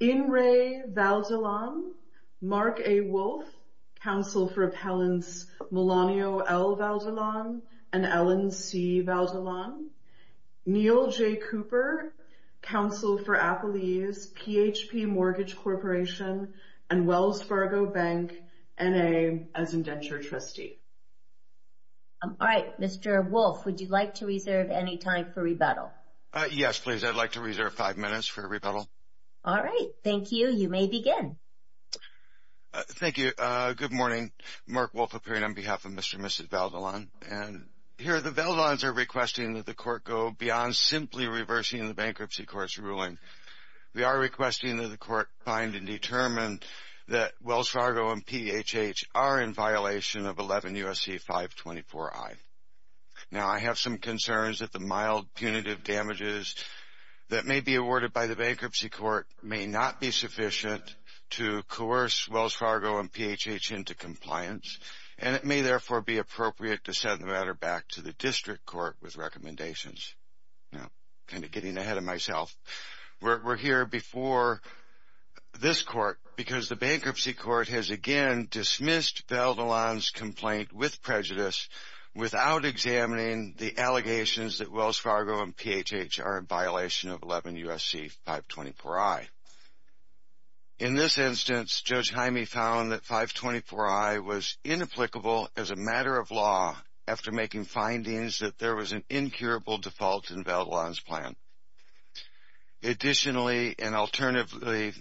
In re. Valdellon, Mark A. Wolfe, counsel for appellants Melanio L. Valdellon and Ellen C. Valdellon. Neil J. Cooper, counsel for appellees, PHP Mortgage Corporation and Wells Fargo Bank, N.A. as indentured trustee. All right, Mr. Wolfe, would you like to reserve any time for rebuttal? Yes, please. I'd like to reserve five minutes for rebuttal. All right. Thank you. You may begin. Thank you. Good morning. Mark Wolfe appearing on behalf of Mr. and Mrs. Valdellon. And here the Valdellons are requesting that the court go beyond simply reversing the bankruptcy court's ruling. We are requesting that the court find and determine that Wells Fargo and PHH are in violation of 11 U.S.C. 524-I. Now, I have some concerns that the mild punitive damages that may be awarded by the bankruptcy court may not be sufficient to coerce Wells Fargo and PHH into compliance. And it may therefore be appropriate to send the matter back to the district court with recommendations. Kind of getting ahead of myself. We're here before this court because the bankruptcy court has again dismissed Valdellon's complaint with prejudice without examining the allegations that Wells Fargo and PHH are in violation of 11 U.S.C. 524-I. In this instance, Judge Hyme found that 524-I was inapplicable as a matter of law after making findings that there was an incurable default in Valdellon's plan. Additionally and alternatively,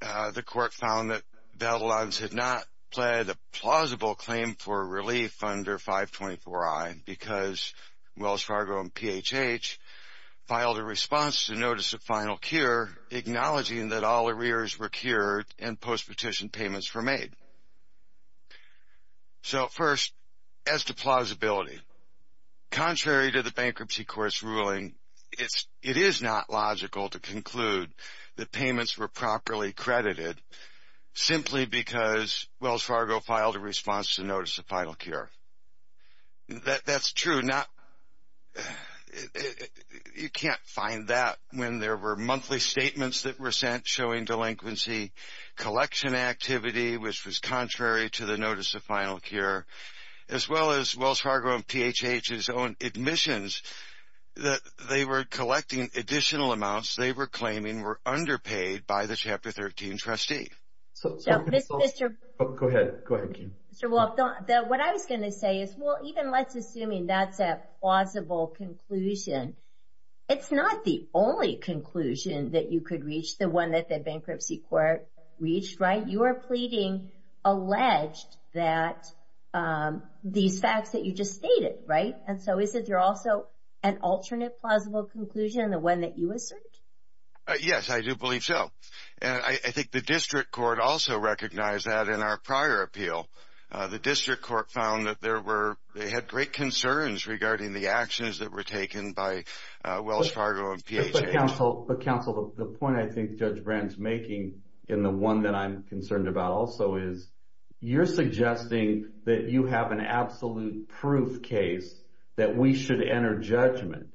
the court found that Valdellon's had not pled a plausible claim for relief under 524-I because Wells Fargo and PHH filed a response to notice of final cure acknowledging that all arrears were cured and post-petition payments were made. So first, as to plausibility. Contrary to the bankruptcy court's ruling, it is not logical to conclude that payments were properly credited simply because Wells Fargo filed a response to notice of final cure. That's true. You can't find that when there were monthly statements that were sent showing delinquency collection activity which was contrary to the notice of final cure as well as Wells Fargo and PHH's own admissions that they were collecting additional amounts they were claiming were underpaid by the Chapter 13 trustee. What I was going to say is, well, even let's assume that's a plausible conclusion. It's not the only conclusion that you could reach, the one that the bankruptcy court reached, right? You are pleading alleged that these facts that you just stated, right? And so is it also an alternate plausible conclusion, the one that you asserted? Yes, I do believe so. And I think the district court also recognized that in our prior appeal. The district court found that they had great concerns regarding the actions that were taken by Wells Fargo and PHH. Counsel, the point I think Judge Brandt's making and the one that I'm concerned about also is you're suggesting that you have an absolute proof case that we should enter judgment.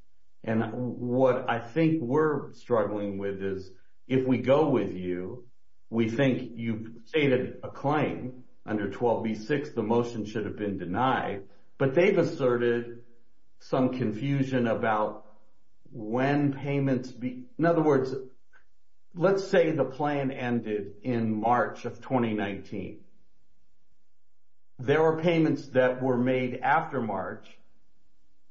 And what I think we're struggling with is if we go with you, we think you've stated a claim under 12b-6, the motion should have been denied. But they've asserted some confusion about when payments be. In other words, let's say the plan ended in March of 2019. There were payments that were made after March,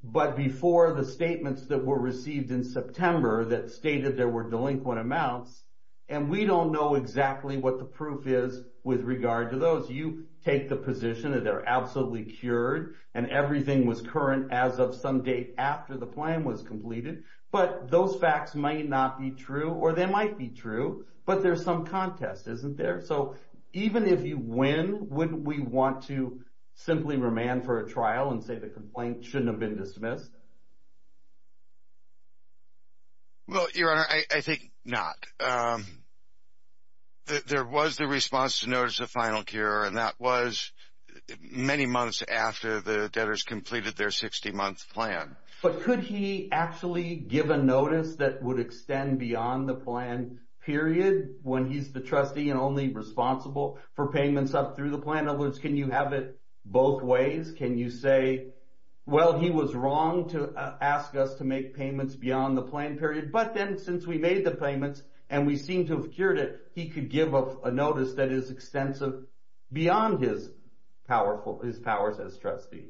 but before the statements that were received in September that stated there were delinquent amounts. And we don't know exactly what the proof is with regard to those. You take the position that they're absolutely cured and everything was current as of some date after the plan was completed. But those facts might not be true or they might be true, but there's some contest, isn't there? So even if you win, wouldn't we want to simply remand for a trial and say the complaint shouldn't have been dismissed? Well, Your Honor, I think not. There was the response to notice of final cure, and that was many months after the debtors completed their 60-month plan. But could he actually give a notice that would extend beyond the plan period when he's the trustee and only responsible for payments up through the plan? In other words, can you have it both ways? Can you say, well, he was wrong to ask us to make payments beyond the plan period, but then since we made the payments and we seem to have cured it, he could give a notice that is extensive beyond his powers as trustee?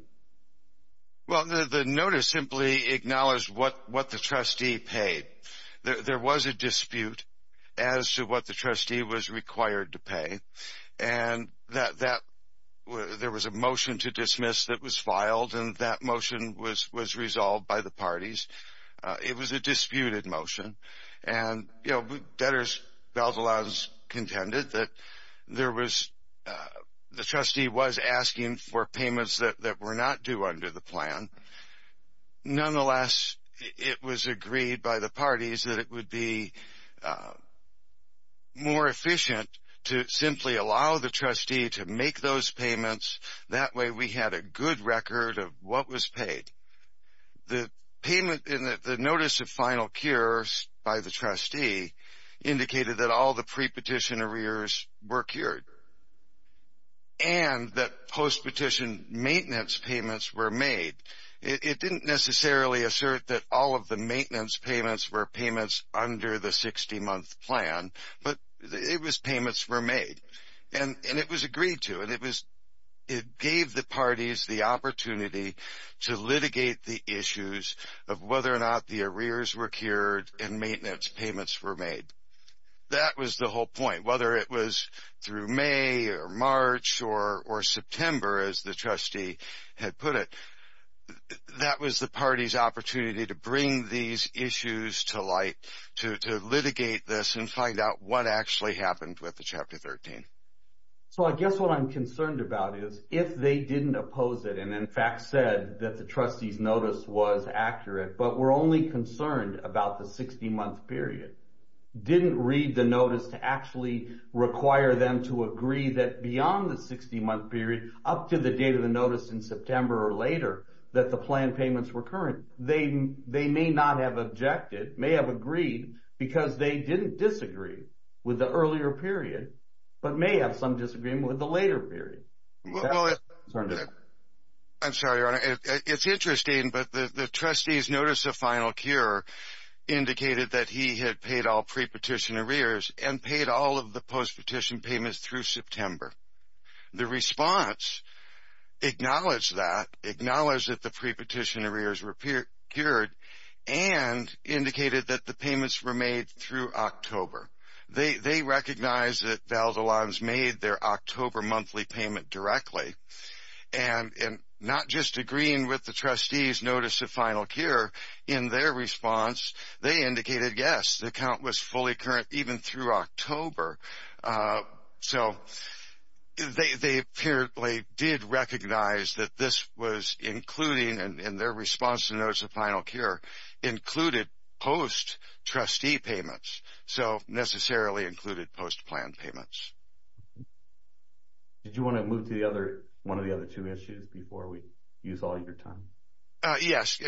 Well, the notice simply acknowledged what the trustee paid. There was a dispute as to what the trustee was required to pay, and there was a motion to dismiss that was filed, and that motion was resolved by the parties. It was a disputed motion. And debtors, Valdelaz, contended that the trustee was asking for payments that were not due under the plan. Nonetheless, it was agreed by the parties that it would be more efficient to simply allow the trustee to make those payments. That way, we had a good record of what was paid. The payment in the notice of final cures by the trustee indicated that all the pre-petition arrears were cured and that post-petition maintenance payments were made. It didn't necessarily assert that all of the maintenance payments were payments under the 60-month plan, but it was payments were made, and it was agreed to, and it gave the parties the opportunity to litigate the issues of whether or not the arrears were cured and maintenance payments were made. That was the whole point. Whether it was through May or March or September, as the trustee had put it, that was the party's opportunity to bring these issues to light, to litigate this and find out what actually happened with the Chapter 13. So I guess what I'm concerned about is if they didn't oppose it and, in fact, said that the trustee's notice was accurate, but were only concerned about the 60-month period, didn't read the notice to actually require them to agree that beyond the 60-month period up to the date of the notice in September or later that the plan payments were current, they may not have objected, may have agreed, because they didn't disagree with the earlier period, but may have some disagreement with the later period. That's what I'm concerned about. I'm sorry, Your Honor. It's interesting, but the trustee's notice of final cure indicated that he had paid all pre-petition arrears and paid all of the post-petition payments through September. The response acknowledged that, acknowledged that the pre-petition arrears were cured, and indicated that the payments were made through October. They recognized that Valdez-Lanz made their October monthly payment directly, and not just agreeing with the trustee's notice of final cure. In their response, they indicated, yes, the account was fully current even through October. So they apparently did recognize that this was including, and their response to the notice of final cure included post-trustee payments, so necessarily included post-plan payments. Did you want to move to one of the other two issues before we use all your time? Yes.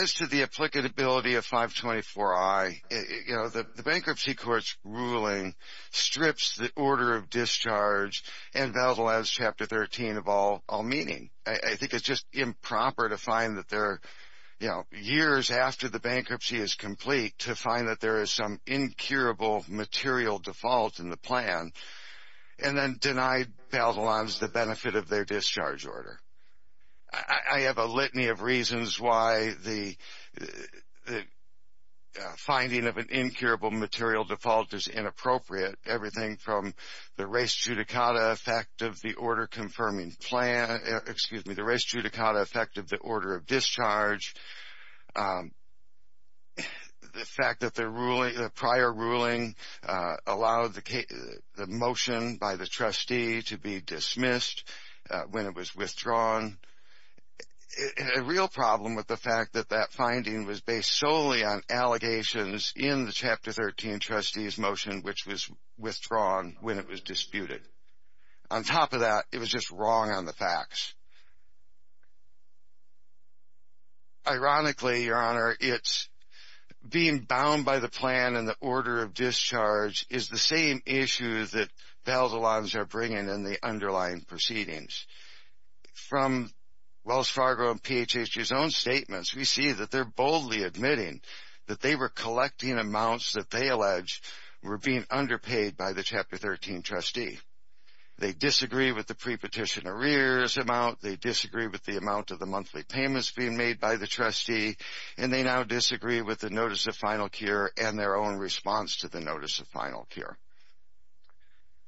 As to the applicability of 524-I, you know, the bankruptcy court's ruling strips the order of discharge and Valdez-Lanz Chapter 13 of all meaning. I think it's just improper to find that they're, you know, years after the bankruptcy is complete to find that there is some incurable material default in the plan, and then deny Valdez-Lanz the benefit of their discharge order. I have a litany of reasons why the finding of an incurable material default is inappropriate. Everything from the res judicata effect of the order confirming plan, excuse me, the res judicata effect of the order of discharge, the fact that the prior ruling allowed the motion by the trustee to be dismissed when it was withdrawn. A real problem with the fact that that finding was based solely on allegations in the Chapter 13 trustees motion which was withdrawn when it was disputed. On top of that, it was just wrong on the facts. Ironically, Your Honor, it's being bound by the plan and the order of discharge is the same issue that Valdez-Lanz are bringing in the underlying proceedings. From Wells Fargo and PHH's own statements, we see that they're boldly admitting that they were collecting amounts that they allege were being underpaid by the Chapter 13 trustee. They disagree with the pre-petition arrears amount. They disagree with the amount of the monthly payments being made by the trustee. And they now disagree with the notice of final cure and their own response to the notice of final cure.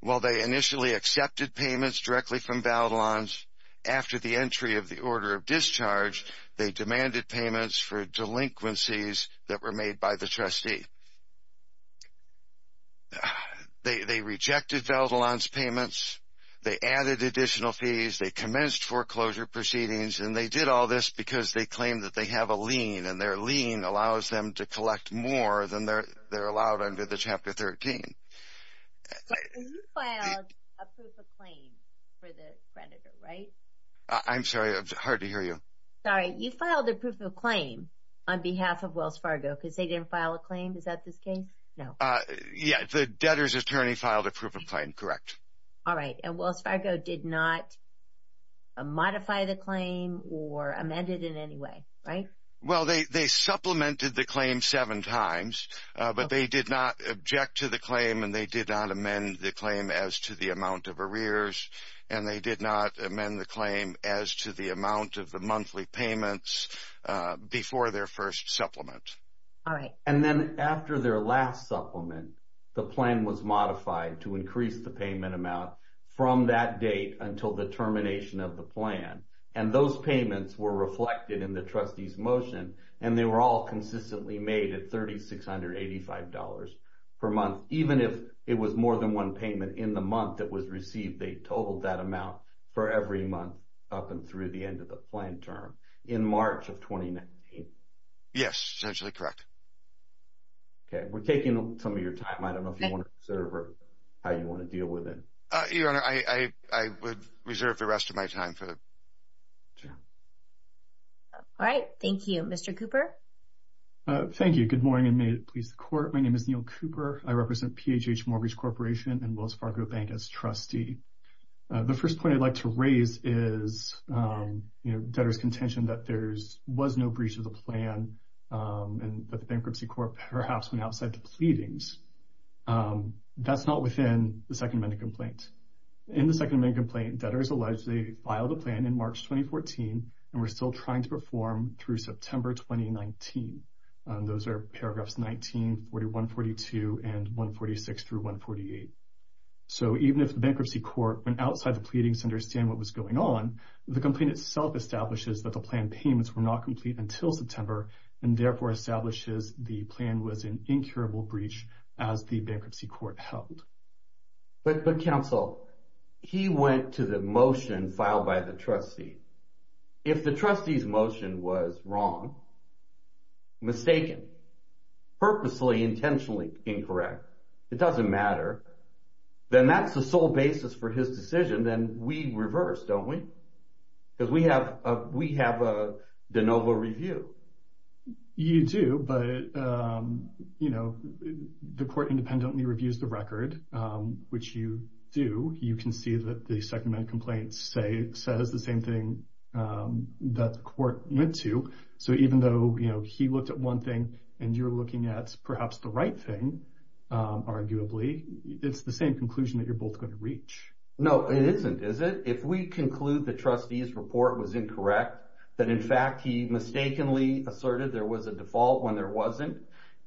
While they initially accepted payments directly from Valdez-Lanz, after the entry of the order of discharge, they demanded payments for delinquencies that were made by the trustee. They rejected Valdez-Lanz payments. They added additional fees. They commenced foreclosure proceedings. And they did all this because they claim that they have a lien and their lien allows them to collect more than they're allowed under the Chapter 13. So you filed a proof of claim for the creditor, right? I'm sorry, it's hard to hear you. Sorry, you filed a proof of claim on behalf of Wells Fargo because they didn't file a claim? Is that the case? No. Yeah, the debtor's attorney filed a proof of claim, correct. All right. And Wells Fargo did not modify the claim or amend it in any way, right? Well, they supplemented the claim seven times, but they did not object to the claim and they did not amend the claim as to the amount of arrears, and they did not amend the claim as to the amount of the monthly payments before their first supplement. All right. And then after their last supplement, the plan was modified to increase the payment amount from that date until the termination of the plan. And those payments were reflected in the trustee's motion, and they were all consistently made at $3,685 per month. Even if it was more than one payment in the month that was received, they totaled that amount for every month up and through the end of the plan term in March of 2019. Yes, essentially correct. Okay. We're taking some of your time. I don't know if you want to reserve or how you want to deal with it. Your Honor, I would reserve the rest of my time. All right. Thank you. Mr. Cooper? Thank you. Good morning, and may it please the Court. My name is Neil Cooper. I represent PHH Mortgage Corporation and Wells Fargo Bank as trustee. The first point I'd like to raise is debtors' contention that there was no breach of the plan and that the Bankruptcy Court perhaps went outside the pleadings. That's not within the Second Amendment complaint. In the Second Amendment complaint, debtors allege they filed a plan in March 2014 and were still trying to perform through September 2019. Those are paragraphs 19, 41, 42, and 146 through 148. So even if the Bankruptcy Court went outside the pleadings to understand what was going on, the complaint itself establishes that the plan payments were not complete until September and therefore establishes the plan was an incurable breach as the Bankruptcy Court held. But, Counsel, he went to the motion filed by the trustee. If the trustee's motion was wrong, mistaken, purposely, intentionally incorrect, it doesn't matter, then that's the sole basis for his decision. Then we reverse, don't we? Because we have a de novo review. You do, but the court independently reviews the record, which you do. You can see that the Second Amendment complaint says the same thing that the court went to. So even though he looked at one thing and you're looking at perhaps the right thing, arguably, it's the same conclusion that you're both going to reach. No, it isn't, is it? If we conclude the trustee's report was incorrect, that in fact he mistakenly asserted there was a default when there wasn't,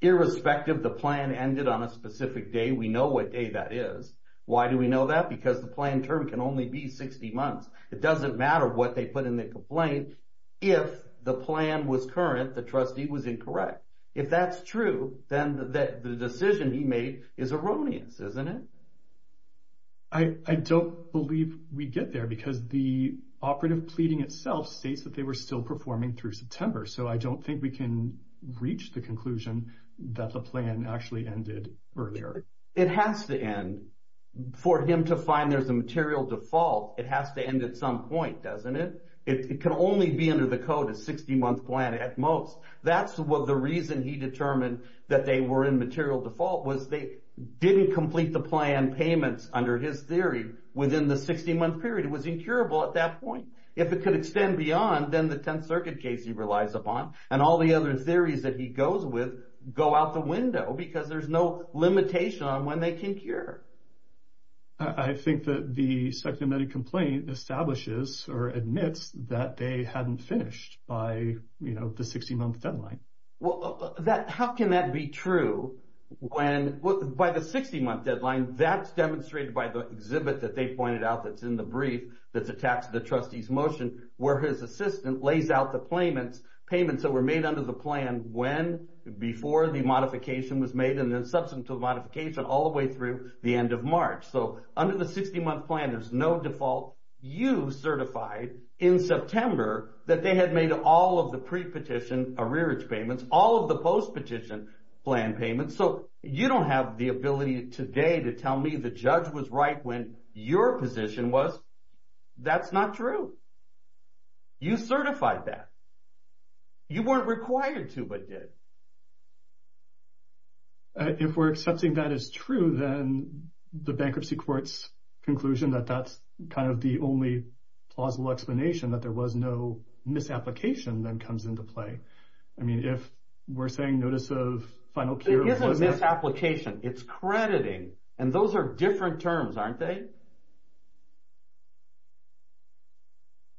irrespective the plan ended on a specific day, we know what day that is. Why do we know that? Because the plan term can only be 60 months. It doesn't matter what they put in the complaint. If the plan was current, the trustee was incorrect. If that's true, then the decision he made is erroneous, isn't it? I don't believe we get there because the operative pleading itself states that they were still performing through September. So I don't think we can reach the conclusion that the plan actually ended earlier. It has to end. For him to find there's a material default, it has to end at some point, doesn't it? It can only be under the code of 60-month plan at most. That's the reason he determined that they were in material default, was they didn't complete the plan payments under his theory within the 60-month period. It was incurable at that point. If it could extend beyond, then the Tenth Circuit case he relies upon and all the other theories that he goes with go out the window because there's no limitation on when they can cure. I think that the Second Amendment complaint establishes or admits that they hadn't finished by the 60-month deadline. How can that be true? By the 60-month deadline, that's demonstrated by the exhibit that they pointed out that's in the brief that's attached to the trustee's motion where his assistant lays out the payments that were made under the plan and when before the modification was made and then subsequent to the modification all the way through the end of March. Under the 60-month plan, there's no default. You certified in September that they had made all of the pre-petition arrearage payments, all of the post-petition plan payments, so you don't have the ability today to tell me the judge was right when your position was. That's not true. You certified that. You weren't required to but did. If we're accepting that as true, then the bankruptcy court's conclusion that that's kind of the only plausible explanation that there was no misapplication then comes into play. I mean, if we're saying notice of final cure wasn't… It isn't misapplication. It's crediting, and those are different terms, aren't they?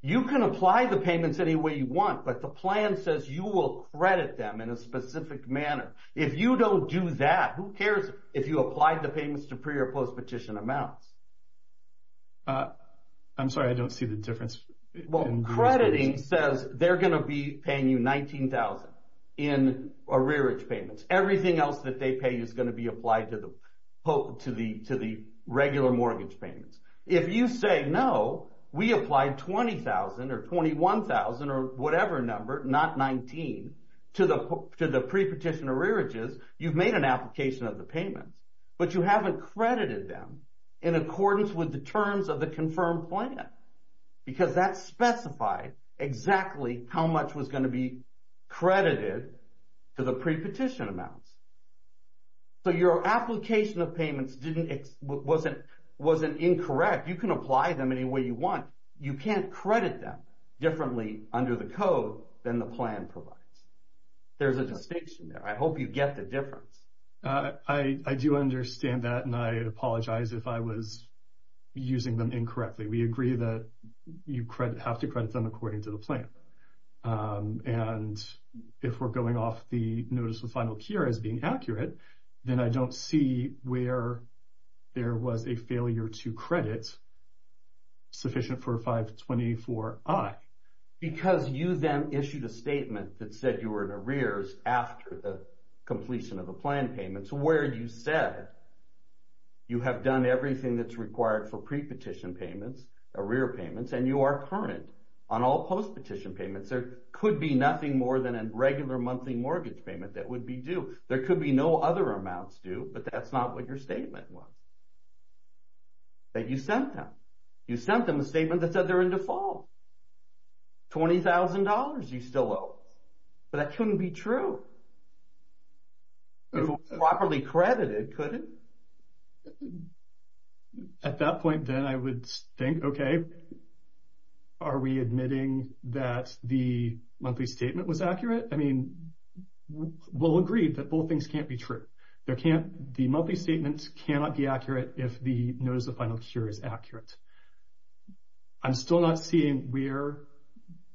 You can apply the payments any way you want, but the plan says you will credit them in a specific manner. If you don't do that, who cares if you applied the payments to pre- or post-petition amounts? I'm sorry. I don't see the difference. Well, crediting says they're going to be paying you $19,000 in arrearage payments. Everything else that they pay you is going to be applied to the regular mortgage payments. If you say, no, we applied $20,000 or $21,000 or whatever number, not $19,000, to the pre-petition arrearages, you've made an application of the payments, but you haven't credited them in accordance with the terms of the confirmed plan because that specified exactly how much was going to be credited to the pre-petition amounts. So, your application of payments wasn't incorrect. You can apply them any way you want. You can't credit them differently under the code than the plan provides. There's a distinction there. I hope you get the difference. I do understand that, and I apologize if I was using them incorrectly. We agree that you have to credit them according to the plan. And if we're going off the notice of final cure as being accurate, then I don't see where there was a failure to credit sufficient for 524I. Because you then issued a statement that said you were in arrears after the completion of the plan payments, where you said you have done everything that's required for pre-petition payments, arrear payments, and you are current on all post-petition payments. There could be nothing more than a regular monthly mortgage payment that would be due. There could be no other amounts due, but that's not what your statement was, that you sent them. You sent them a statement that said they're in default. $20,000 you still owe. That couldn't be true. If it was properly credited, could it? At that point, then I would think, okay, are we admitting that the monthly statement was accurate? I mean, we'll agree that both things can't be true. The monthly statement cannot be accurate if the notice of final cure is accurate. I'm still not seeing where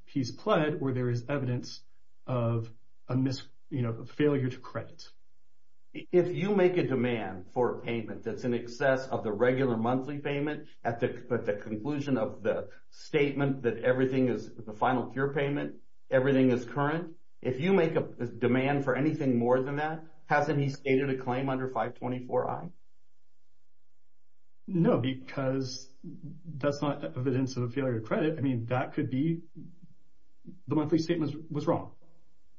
he's pled where there is evidence of a failure to credit. If you make a demand for a payment that's in excess of the regular monthly payment at the conclusion of the statement that everything is the final cure payment, everything is current, if you make a demand for anything more than that, hasn't he stated a claim under 524I? No, because that's not evidence of a failure to credit. I mean, that could be the monthly statement was wrong,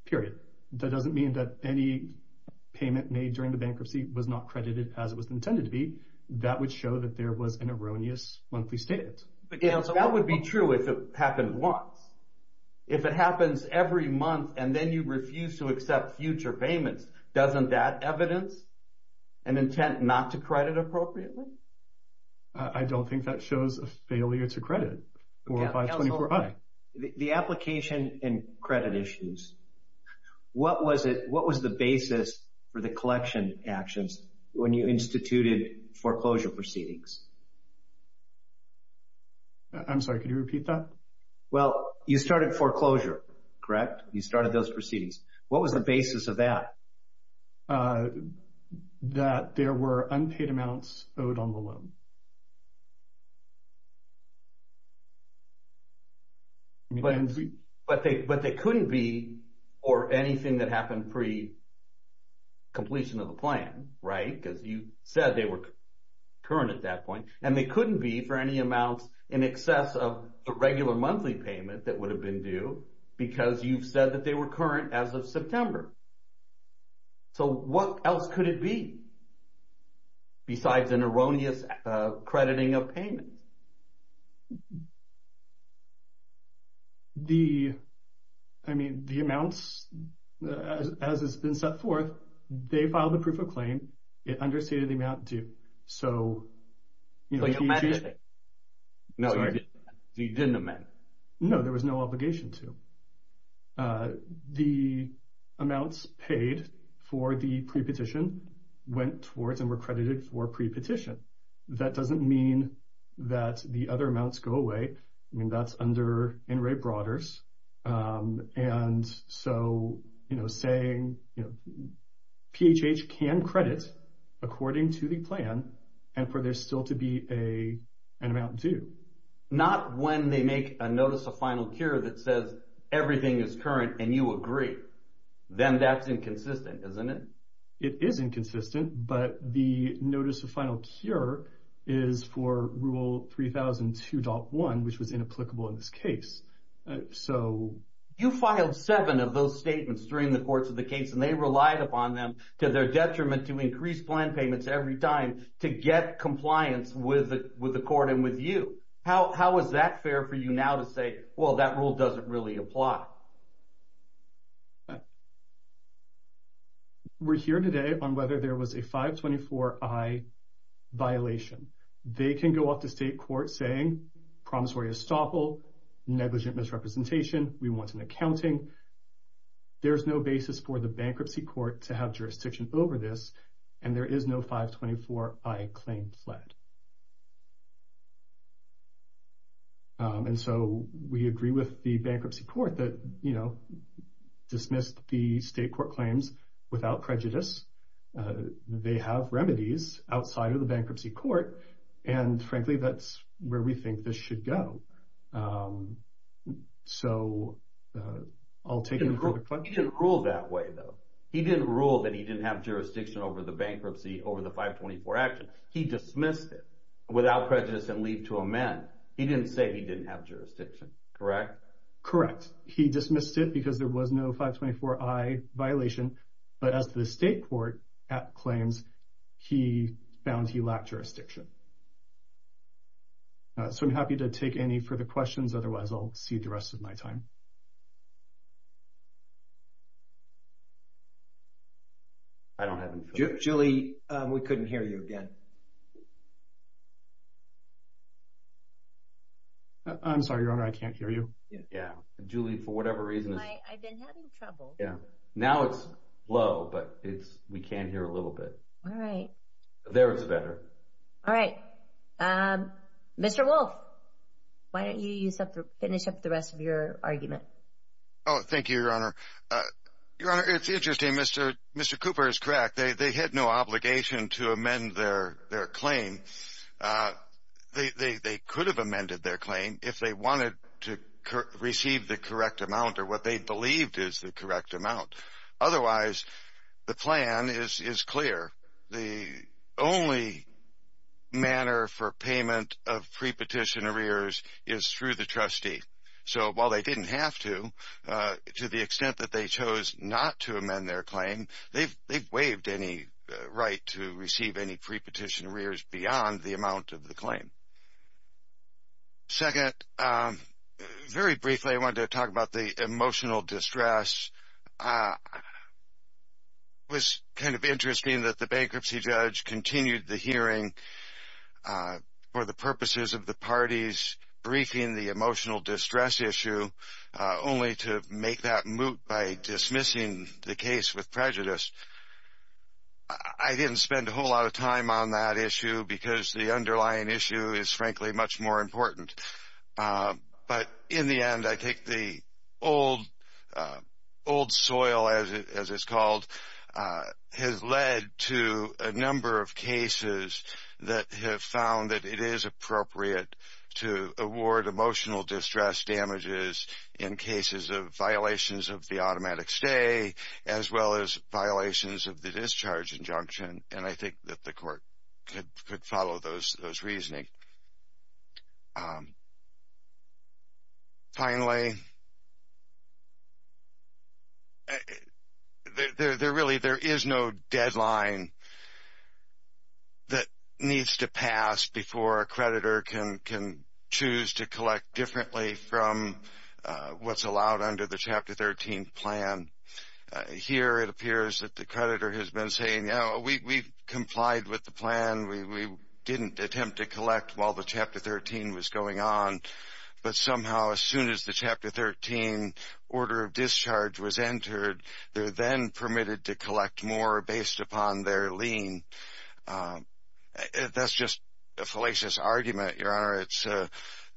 period. That doesn't mean that any payment made during the bankruptcy was not credited as it was intended to be. That would show that there was an erroneous monthly statement. That would be true if it happened once. If it happens every month and then you refuse to accept future payments, doesn't that evidence an intent not to credit appropriately? I don't think that shows a failure to credit or a 524I. The application and credit issues, what was the basis for the collection actions when you instituted foreclosure proceedings? I'm sorry, could you repeat that? Well, you started foreclosure, correct? You started those proceedings. What was the basis of that? That there were unpaid amounts owed on the loan. But they couldn't be for anything that happened pre-completion of the plan, right? Because you said they were current at that point. And they couldn't be for any amounts in excess of a regular monthly payment that would have been due because you've said that they were current as of September. So what else could it be besides an erroneous crediting of payments? I mean, the amounts, as it's been set forth, they filed a proof of claim. It understated the amount due. So you didn't amend it. No, you didn't amend it. No, there was no obligation to. The amounts paid for the pre-petition went towards and were credited for pre-petition. That doesn't mean that the other amounts go away. I mean, that's under NRA Broaders. And so saying PHH can credit according to the plan and for there still to be an amount due. Not when they make a Notice of Final Cure that says everything is current and you agree. Then that's inconsistent, isn't it? It is inconsistent, but the Notice of Final Cure is for Rule 3002.1, which was inapplicable in this case. So you filed seven of those statements during the course of the case, and they relied upon them to their detriment to increase plan payments every time to get compliance with the court and with you. How is that fair for you now to say, well, that rule doesn't really apply? We're here today on whether there was a 524i violation. They can go off to state court saying promissory estoppel, negligent misrepresentation, we want an accounting. There is no basis for the bankruptcy court to have jurisdiction over this, and there is no 524i claim fled. And so we agree with the bankruptcy court that, you know, dismissed the state court claims without prejudice. They have remedies outside of the bankruptcy court, and frankly, that's where we think this should go. So I'll take it from the front. He didn't rule that way, though. He didn't rule that he didn't have jurisdiction over the bankruptcy over the 524 action. He dismissed it without prejudice and leave to amend. He didn't say he didn't have jurisdiction, correct? Correct. Yes, he dismissed it because there was no 524i violation. But as the state court claims, he found he lacked jurisdiction. So I'm happy to take any further questions. Otherwise, I'll cede the rest of my time. I don't have them. Julie, we couldn't hear you again. I'm sorry, Your Honor, I can't hear you. Yeah. Julie, for whatever reason. I've been having trouble. Yeah. Now it's low, but we can hear a little bit. All right. There it's better. All right. Mr. Wolf, why don't you finish up the rest of your argument? Oh, thank you, Your Honor. Your Honor, it's interesting. Mr. Cooper is correct. They had no obligation to amend their claim. They could have amended their claim if they wanted to receive the correct amount or what they believed is the correct amount. Otherwise, the plan is clear. The only manner for payment of prepetition arrears is through the trustee. So while they didn't have to, to the extent that they chose not to amend their claim, they waived any right to receive any prepetition arrears beyond the amount of the claim. Second, very briefly I wanted to talk about the emotional distress. It was kind of interesting that the bankruptcy judge continued the hearing for the purposes of the parties briefing the emotional distress issue only to make that moot by dismissing the case with prejudice. I didn't spend a whole lot of time on that issue because the underlying issue is, frankly, much more important. But in the end, I think the old soil, as it's called, has led to a number of cases that have found that it is appropriate to award emotional distress damages in cases of violations of the automatic stay as well as violations of the discharge injunction. And I think that the court could follow those reasoning. Finally, there really is no deadline that needs to pass before a creditor can choose to collect differently from what's allowed under the Chapter 13 plan. Here it appears that the creditor has been saying, you know, we complied with the plan. We didn't attempt to collect while the Chapter 13 was going on. But somehow as soon as the Chapter 13 order of discharge was entered, they're then permitted to collect more based upon their lien. That's just a fallacious argument, Your Honor.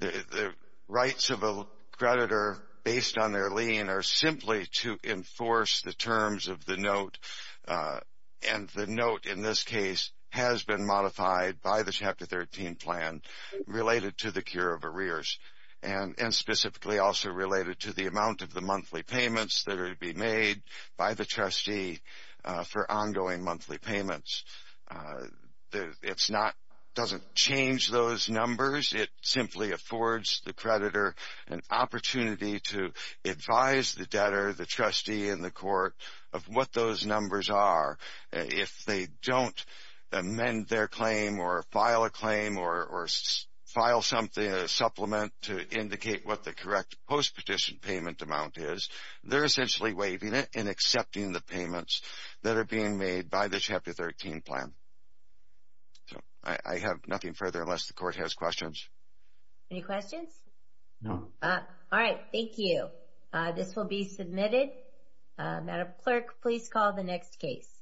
The rights of a creditor based on their lien are simply to enforce the terms of the note. And the note in this case has been modified by the Chapter 13 plan related to the cure of arrears and specifically also related to the amount of the monthly payments that are to be made by the trustee for ongoing monthly payments. It doesn't change those numbers. It simply affords the creditor an opportunity to advise the debtor, the trustee, and the court of what those numbers are. If they don't amend their claim or file a claim or file something, a supplement, to indicate what the correct post-petition payment amount is, they're essentially waiving it and accepting the payments that are being made by the Chapter 13 plan. I have nothing further unless the court has questions. Any questions? No. All right. Thank you. This will be submitted. Madam Clerk, please call the next case.